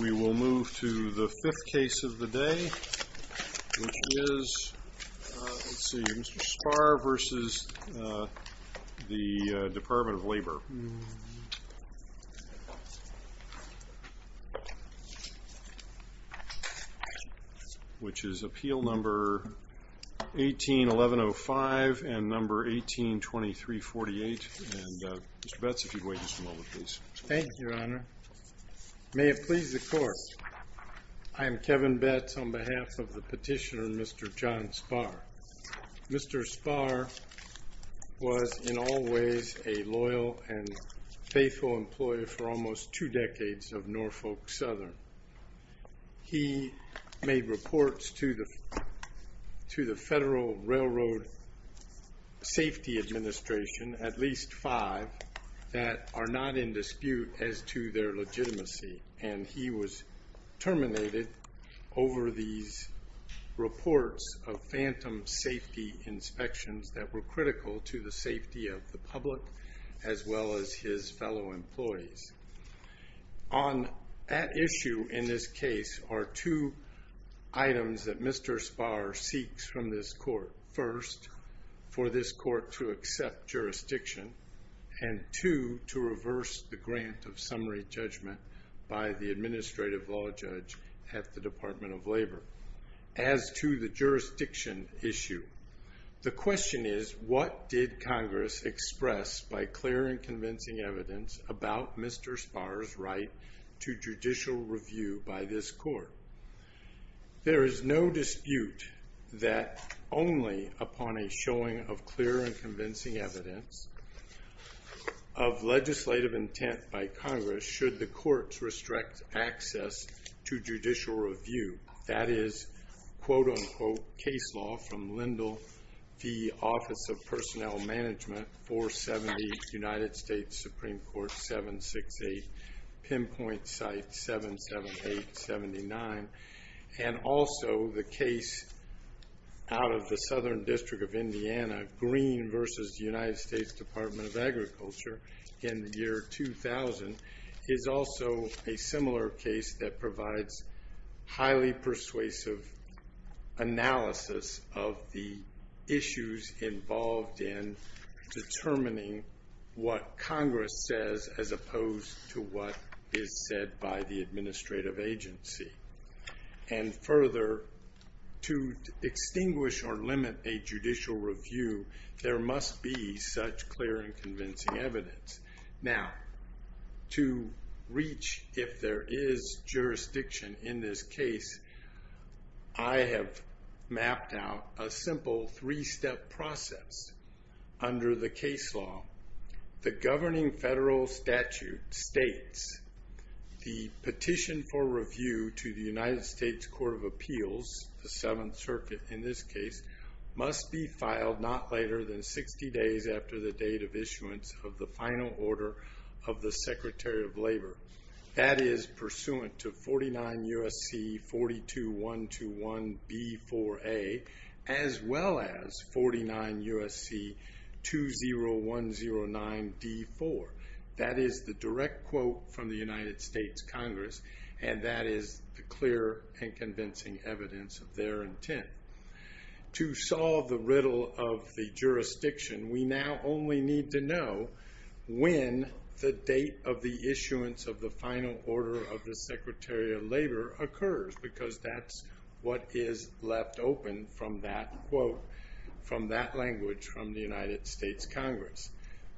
We will move to the fifth case of the day, which is, let's see, Mr. Sparre v. the Department of Labor, which is appeal number 18-1105 and number 18-2348. And Mr. Betz, if you'd wait just a moment, please. Thank you, Your Honor. May it please the Court, I am Kevin Betz on behalf of the petitioner, Mr. John Sparre. Mr. Sparre was in all ways a loyal and faithful employee for almost two decades of Norfolk Southern. He made reports to the Federal Railroad Safety Administration, at least five, that are not in dispute as to their legitimacy. And he was terminated over these reports of phantom safety inspections that were critical to the safety of the public as well as his fellow employees. On that issue in this case are two items that Mr. Sparre seeks from this Court. First, for this Court to accept jurisdiction, and two, to reverse the grant of summary judgment by the administrative law judge at the Department of Labor. As to the jurisdiction issue, the question is, what did Congress express by clear and convincing evidence about Mr. Sparre's right to judicial review by this Court? There is no dispute that only upon a showing of clear and convincing evidence of legislative intent by Congress should the courts restrict access to judicial review. That is, quote-unquote, case law from Lindell v. Office of Personnel Management, 470 United States Supreme Court 768, pinpoint site 778-79. And also, the case out of the Southern District of Indiana, Green v. United States Department of Agriculture in the year 2000, is also a similar case that provides highly persuasive analysis of the issues involved in determining what Congress says as opposed to what is said by the administrative agency. And further, to extinguish or limit a judicial review, there must be such clear and convincing evidence. Now, to reach if there is jurisdiction in this case, I have mapped out a simple three-step process under the case law. The governing federal statute states the petition for review to the United States Court of Appeals, the Seventh Circuit in this case, must be filed not later than 60 days after the date of issuance of the final order of the Secretary of Labor. That is pursuant to 49 U.S.C. 42121B4A, as well as 49 U.S.C. 20109D4. That is the direct quote from the United States Congress, and that is the clear and convincing evidence of their intent. To solve the riddle of the jurisdiction, we now only need to know when the date of the issuance of the final order of the Secretary of Labor occurs, because that's what is left open from that quote, from that language from the United States Congress.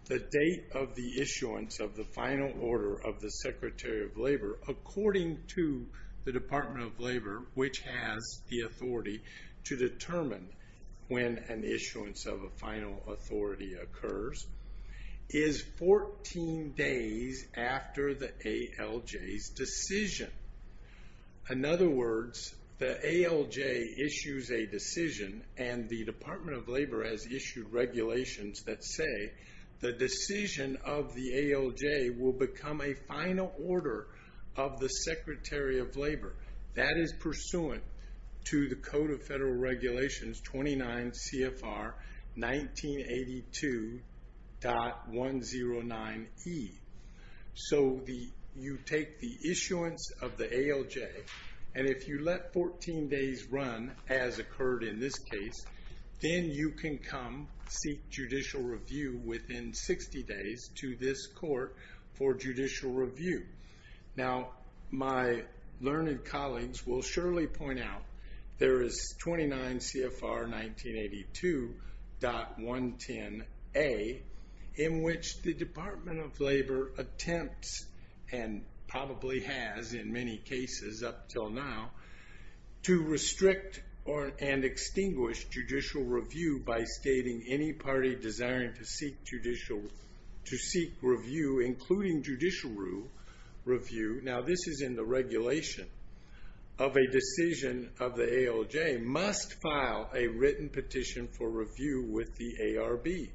The date of the issuance of the final order of the Secretary of Labor, according to the Department of Labor, which has the authority to determine when an issuance of a final authority occurs, is 14 days after the ALJ's decision. In other words, the ALJ issues a decision, and the Department of Labor has issued regulations that say the decision of the ALJ will become a final order of the Secretary of Labor. That is pursuant to the Code of Federal Regulations 29 CFR 1982.109E. You take the issuance of the ALJ, and if you let 14 days run, as occurred in this case, then you can come seek judicial review within 60 days to this court for judicial review. Now, my learned colleagues will surely point out there is 29 CFR 1982.110A, in which the Department of Labor attempts, and probably has in many cases up until now, to restrict and extinguish judicial review by stating any party desiring to seek review, including judicial review. Now, this is in the regulation of a decision of the ALJ must file a written petition for review with the ARB.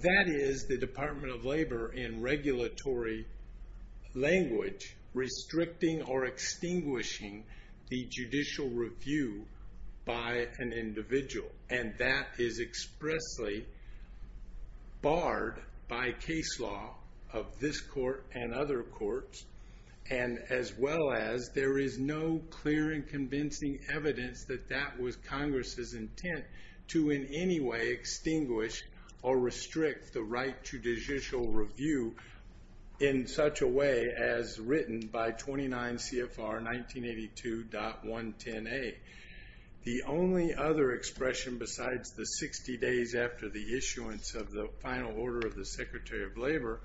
That is the Department of Labor, in regulatory language, restricting or extinguishing the judicial review by an individual. That is expressly barred by case law of this court and other courts, and as well as there is no clear and convincing evidence that that was Congress's intent to in any way extinguish or restrict the right to judicial review in such a way as written by 29 CFR 1982.110A. The only other expression besides the 60 days after the issuance of the final order of the Secretary of Labor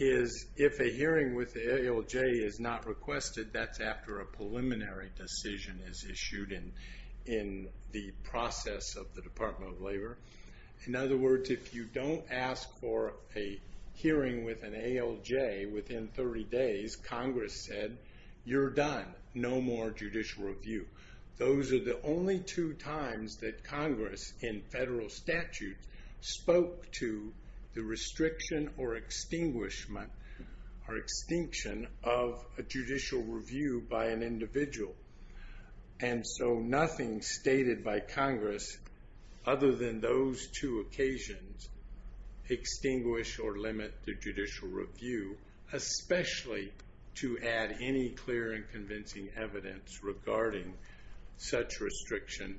is if a hearing with the ALJ is not requested, that's after a preliminary decision is issued in the process of the Department of Labor. In other words, if you don't ask for a hearing with an ALJ within 30 days, Congress said, you're done. No more judicial review. Those are the only two times that Congress in federal statute spoke to the restriction or extinguishment or extinction of a judicial review by an individual. And so nothing stated by Congress other than those two occasions extinguish or limit the judicial review, especially to add any clear and convincing evidence regarding such restriction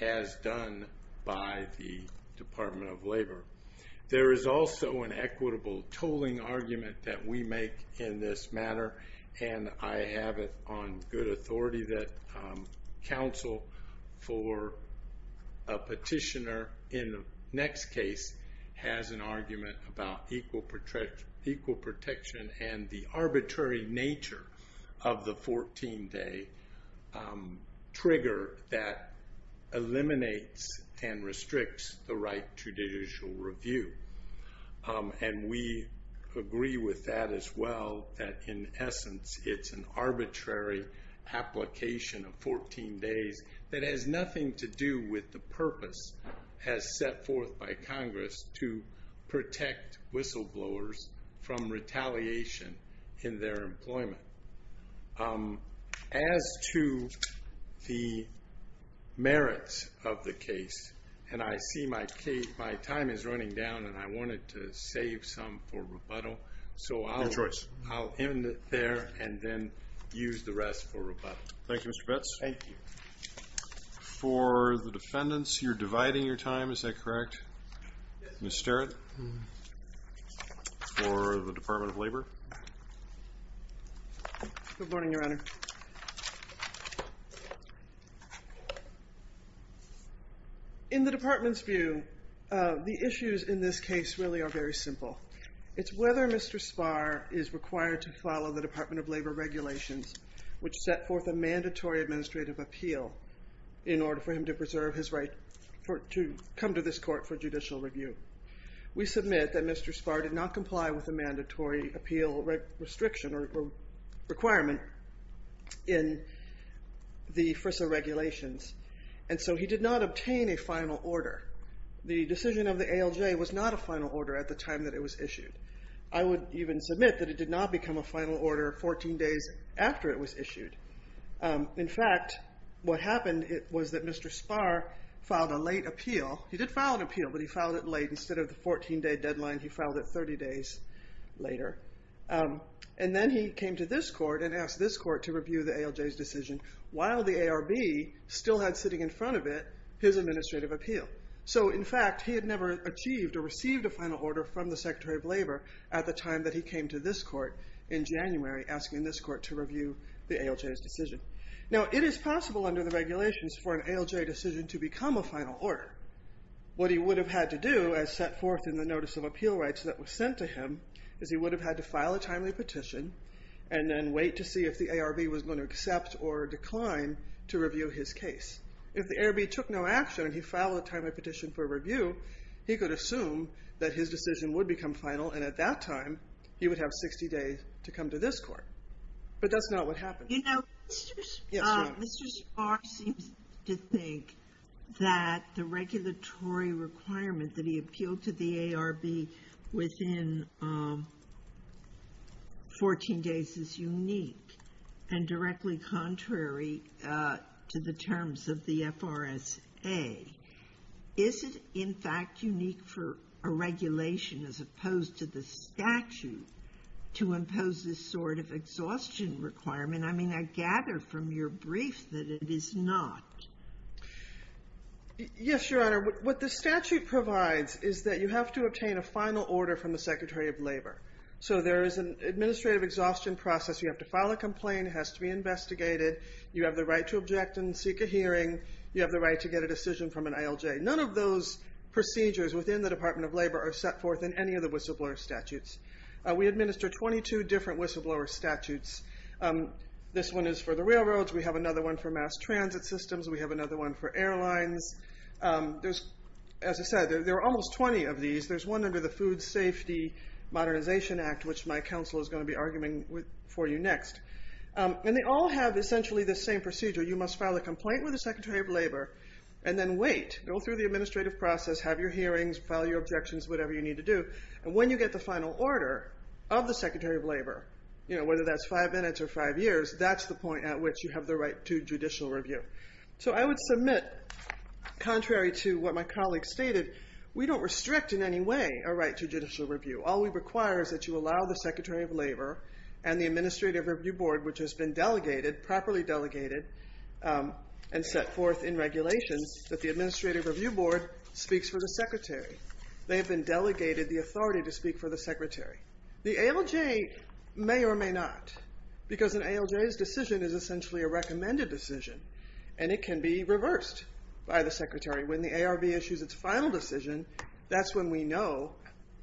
as done by the Department of Labor. There is also an equitable tolling argument that we make in this matter, and I have it on good authority that counsel for a petitioner in the next case has an argument about equal protection and the arbitrary nature of the 14-day trigger that eliminates and restricts the right to judicial review. And we agree with that as well, that in essence, it's an arbitrary application of 14 days that has nothing to do with the purpose as set forth by Congress to protect whistleblowers from retaliation in their employment. As to the merits of the case, and I see my time is running down and I wanted to save some for rebuttal, so I'll end it there and then use the rest for rebuttal. Thank you, Mr. Betz. Thank you. For the defendants, you're dividing your time, is that correct? Yes. Ms. Sterritt, for the Department of Labor. Good morning, Your Honor. In the Department's view, the issues in this case really are very simple. It's whether Mr. Spahr is required to follow the Department of Labor regulations which set forth a mandatory administrative appeal in order for him to preserve his right to come to this court for judicial review. We submit that Mr. Spahr did not comply with a mandatory appeal restriction or requirement in the FRISA regulations, and so he did not obtain a final order. The decision of the ALJ was not a final order at the time that it was issued. I would even submit that it did not become a final order 14 days after it was issued. In fact, what happened was that Mr. Spahr filed a late appeal. He did file an appeal, but he filed it late. Instead of the 14-day deadline, he filed it 30 days later. And then he came to this court and asked this court to review the ALJ's decision while the ARB still had sitting in front of it his administrative appeal. So, in fact, he had never achieved or received a final order from the Secretary of Labor at the time that he came to this court in January asking this court to review the ALJ's decision. Now, it is possible under the regulations for an ALJ decision to become a final order. What he would have had to do, as set forth in the Notice of Appeal Rights that was sent to him, is he would have had to file a timely petition and then wait to see if the ARB was going to accept or decline to review his case. If the ARB took no action and he filed a timely petition for review, he could assume that his decision would become final, and at that time he would have 60 days to come to this court. But that's not what happened. You know, Mr. Spahr seems to think that the regulatory requirement that he appealed to the ARB within 14 days is unique and directly contrary to the terms of the FRSA. Is it, in fact, unique for a regulation as opposed to the statute to impose this sort of exhaustion requirement? I mean, I gather from your brief that it is not. Yes, Your Honor. What the statute provides is that you have to obtain a final order from the Secretary of Labor. So there is an administrative exhaustion process. You have to file a complaint. It has to be investigated. You have the right to object and seek a hearing. You have the right to get a decision from an ALJ. None of those procedures within the Department of Labor are set forth in any of the whistleblower statutes. We administer 22 different whistleblower statutes. This one is for the railroads. We have another one for mass transit systems. We have another one for airlines. There's, as I said, there are almost 20 of these. There's one under the Food Safety Modernization Act, which my counsel is going to be arguing for you next. And they all have essentially the same procedure. You must file a complaint with the Secretary of Labor and then wait. Go through the administrative process, have your hearings, file your objections, whatever you need to do. And when you get the final order of the Secretary of Labor, you know, whether that's five minutes or five years, that's the point at which you have the right to judicial review. So I would submit, contrary to what my colleague stated, we don't restrict in any way our right to judicial review. All we require is that you allow the Secretary of Labor and the Administrative Review Board, which has been delegated, properly delegated, and set forth in regulations, that the Administrative Review Board speaks for the Secretary. They have been delegated the authority to speak for the Secretary. The ALJ may or may not, because an ALJ's decision is essentially a recommended decision. And it can be reversed by the Secretary. When the ARB issues its final decision, that's when we know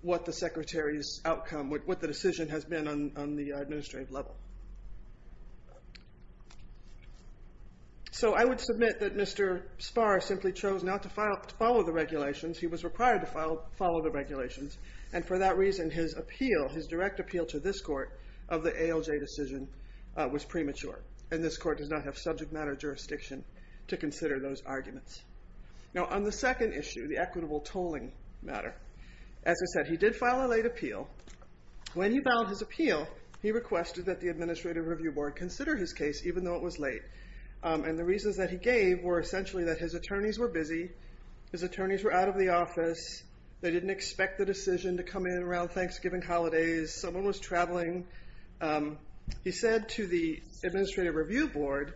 what the Secretary's outcome, what the decision has been on the administrative level. So I would submit that Mr. Spahr simply chose not to follow the regulations. He was required to follow the regulations. And for that reason, his appeal, his direct appeal to this court of the ALJ decision was premature. And this court does not have subject matter jurisdiction to consider those arguments. Now, on the second issue, the equitable tolling matter, as I said, he did file a late appeal. When he filed his appeal, he requested that the Administrative Review Board consider his case, even though it was late. And the reasons that he gave were essentially that his attorneys were busy, his attorneys were out of the office, they didn't expect the decision to come in around Thanksgiving holidays, someone was traveling. He said to the Administrative Review Board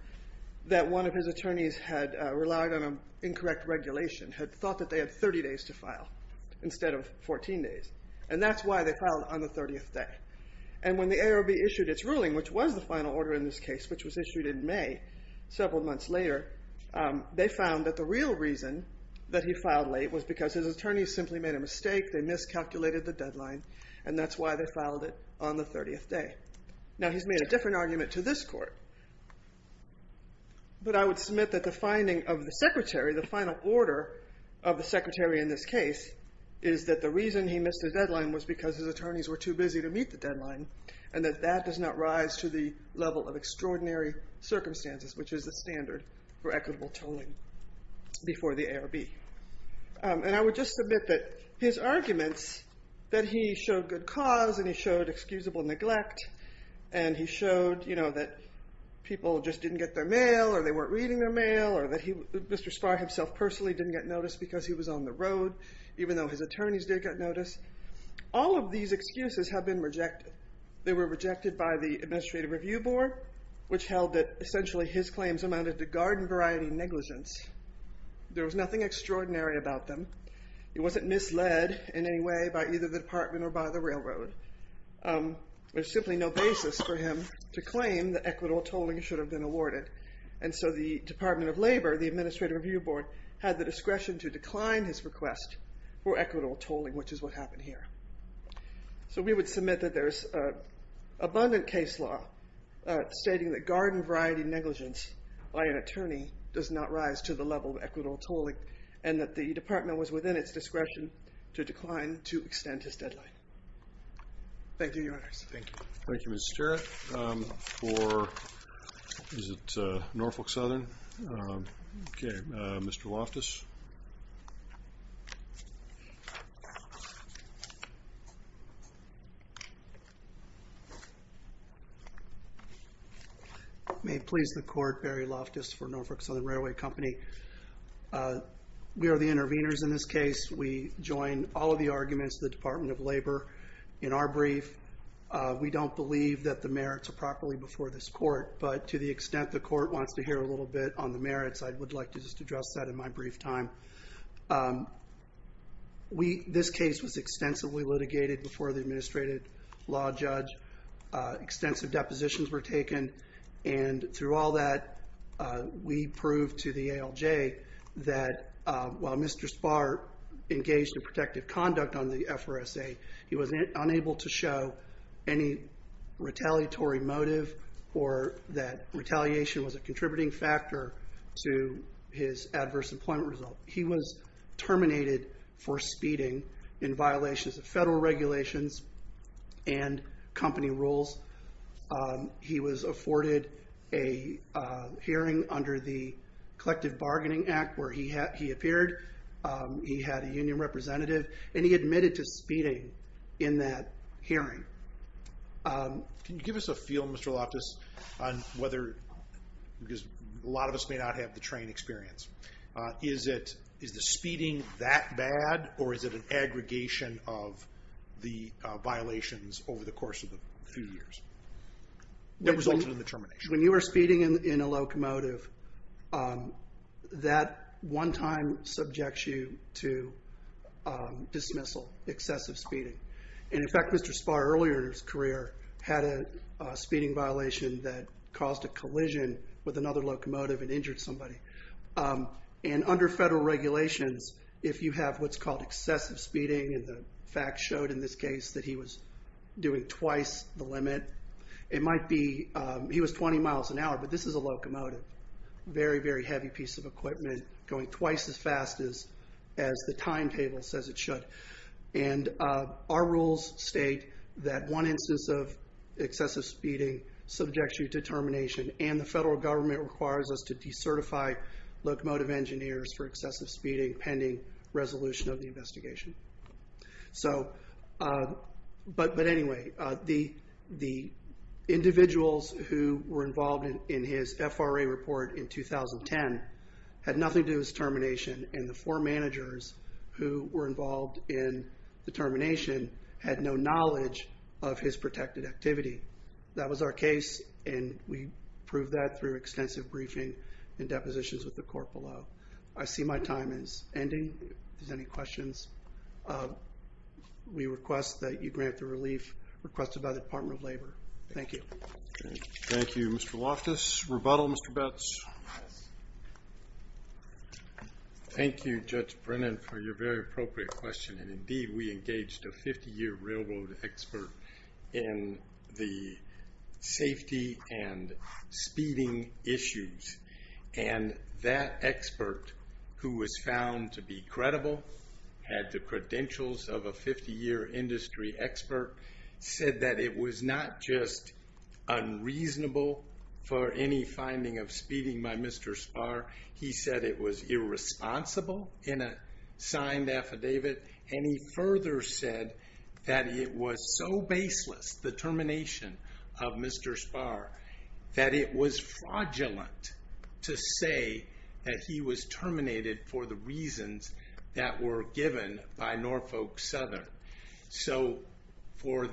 that one of his attorneys had relied on incorrect regulation, had thought that they had 30 days to file instead of 14 days. And that's why they filed on the 30th day. And when the ARB issued its ruling, which was the final order in this case, which was issued in May, several months later, they found that the real reason that he filed late was because his attorneys simply made a mistake, they miscalculated the deadline, and that's why they filed it on the 30th day. Now, he's made a different argument to this court, but I would submit that the finding of the Secretary, the final order of the Secretary in this case, is that the reason he missed the deadline was because his attorneys were too busy to meet the deadline and that that does not rise to the level of extraordinary circumstances, which is the standard for equitable tolling before the ARB. And I would just submit that his arguments that he showed good cause and he showed excusable neglect and he showed that people just didn't get their mail or they weren't reading their mail or that Mr. Spahr himself personally didn't get notice because he was on the road, even though his attorneys did get notice, all of these excuses have been rejected. They were rejected by the Administrative Review Board, which held that essentially his claims amounted to garden variety negligence. There was nothing extraordinary about them. He wasn't misled in any way by either the department or by the railroad. There's simply no basis for him to claim that equitable tolling should have been awarded. And so the Department of Labor, the Administrative Review Board, had the discretion to decline his request for equitable tolling, which is what happened here. So we would submit that there's abundant case law stating that garden variety negligence by an attorney does not rise to the level of equitable tolling and that the department was within its discretion to decline to extend his deadline. Thank you, Your Honors. Thank you. Thank you, Ms. Starrett for Norfolk Southern. Okay, Mr. Loftus. May it please the Court, Barry Loftus for Norfolk Southern Railway Company. We are the intervenors in this case. We join all of the arguments of the Department of Labor in our brief. We don't believe that the merits are properly before this Court, but to the extent the Court wants to hear a little bit on the merits, I would like to just address that in my brief time. This case was extensively litigated before the Administrative Law Judge. Extensive depositions were taken, and through all that, we proved to the ALJ that while Mr. Spahr engaged in protective conduct on the FRSA, he was unable to show any retaliatory motive or that retaliation was a contributing factor to his adverse employment result. He was terminated for speeding in violations of federal regulations and company rules. He was afforded a hearing under the Collective Bargaining Act where he appeared. He had a union representative, and he admitted to speeding in that hearing. Can you give us a feel, Mr. Loftus, on whether, because a lot of us may not have the train experience. Is the speeding that bad, or is it an aggregation of the violations over the course of a few years that resulted in the termination? When you are speeding in a locomotive, that one time subjects you to dismissal, excessive speeding. And in fact, Mr. Spahr, earlier in his career, had a speeding violation that caused a collision with another locomotive and injured somebody. And under federal regulations, if you have what's called excessive speeding, and the facts showed in this case that he was doing twice the limit, it might be, he was 20 miles an hour, but this is a locomotive. Very, very heavy piece of equipment going twice as fast as the timetable says it should. And our rules state that one instance of excessive speeding subjects you to termination, and the federal government requires us to decertify locomotive engineers for excessive speeding pending resolution of the investigation. So, but anyway, the individuals who were involved in his FRA report in 2010 had nothing to do with his termination, and the four managers who were involved in the termination had no knowledge of his protected activity. That was our case, and we proved that through extensive briefing and depositions with the court below. I see my time is ending. If there's any questions, we request that you grant the relief requested by the Department of Labor. Thank you. Thank you. Mr. Loftus. Rebuttal, Mr. Betz. Thank you, Judge Brennan, for your very appropriate question, and indeed we engaged a 50-year railroad expert in the safety and speeding issues. And that expert, who was found to be credible, had the credentials of a 50-year industry expert, said that it was not just unreasonable for any finding of speeding by Mr. Spahr. He said it was irresponsible in a signed affidavit, and he further said that it was so baseless, the termination of Mr. Spahr, that it was fraudulent to say that he was terminated for the reasons that were given by Norfolk Southern. So for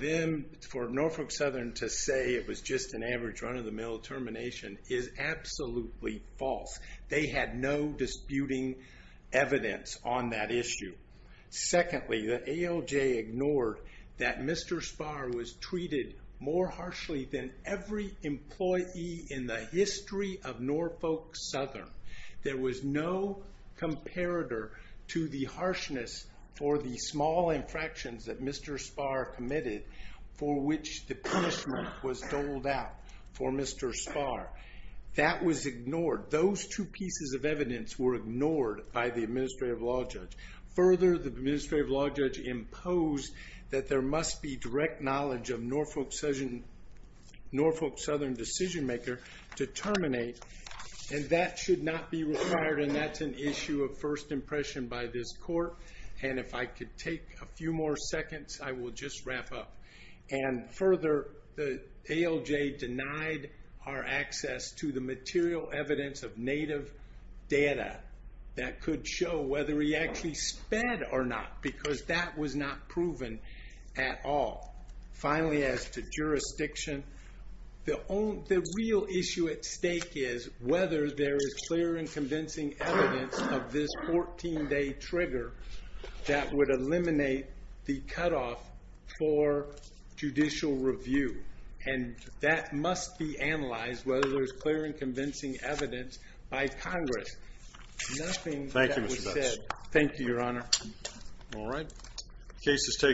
Norfolk Southern to say it was just an average run-of-the-mill termination is absolutely false. They had no disputing evidence on that issue. Secondly, the ALJ ignored that Mr. Spahr was treated more harshly than every employee in the history of Norfolk Southern. There was no comparator to the harshness for the small infractions that Mr. Spahr committed for which the punishment was doled out for Mr. Spahr. That was ignored. Those two pieces of evidence were ignored by the administrative law judge. Further, the administrative law judge imposed that there must be direct knowledge of Norfolk Southern decision-maker to terminate, and that should not be required, and that's an issue of first impression by this court. If I could take a few more seconds, I will just wrap up. Further, the ALJ denied our access to the material evidence of native data that could show whether he actually sped or not because that was not proven at all. Finally, as to jurisdiction, the real issue at stake is whether there is clear and convincing evidence of this 14-day trigger that would eliminate the cutoff for judicial review, and that must be analyzed, whether there's clear and convincing evidence by Congress. Nothing that was said. Thank you, Your Honor. All right. Case is taken.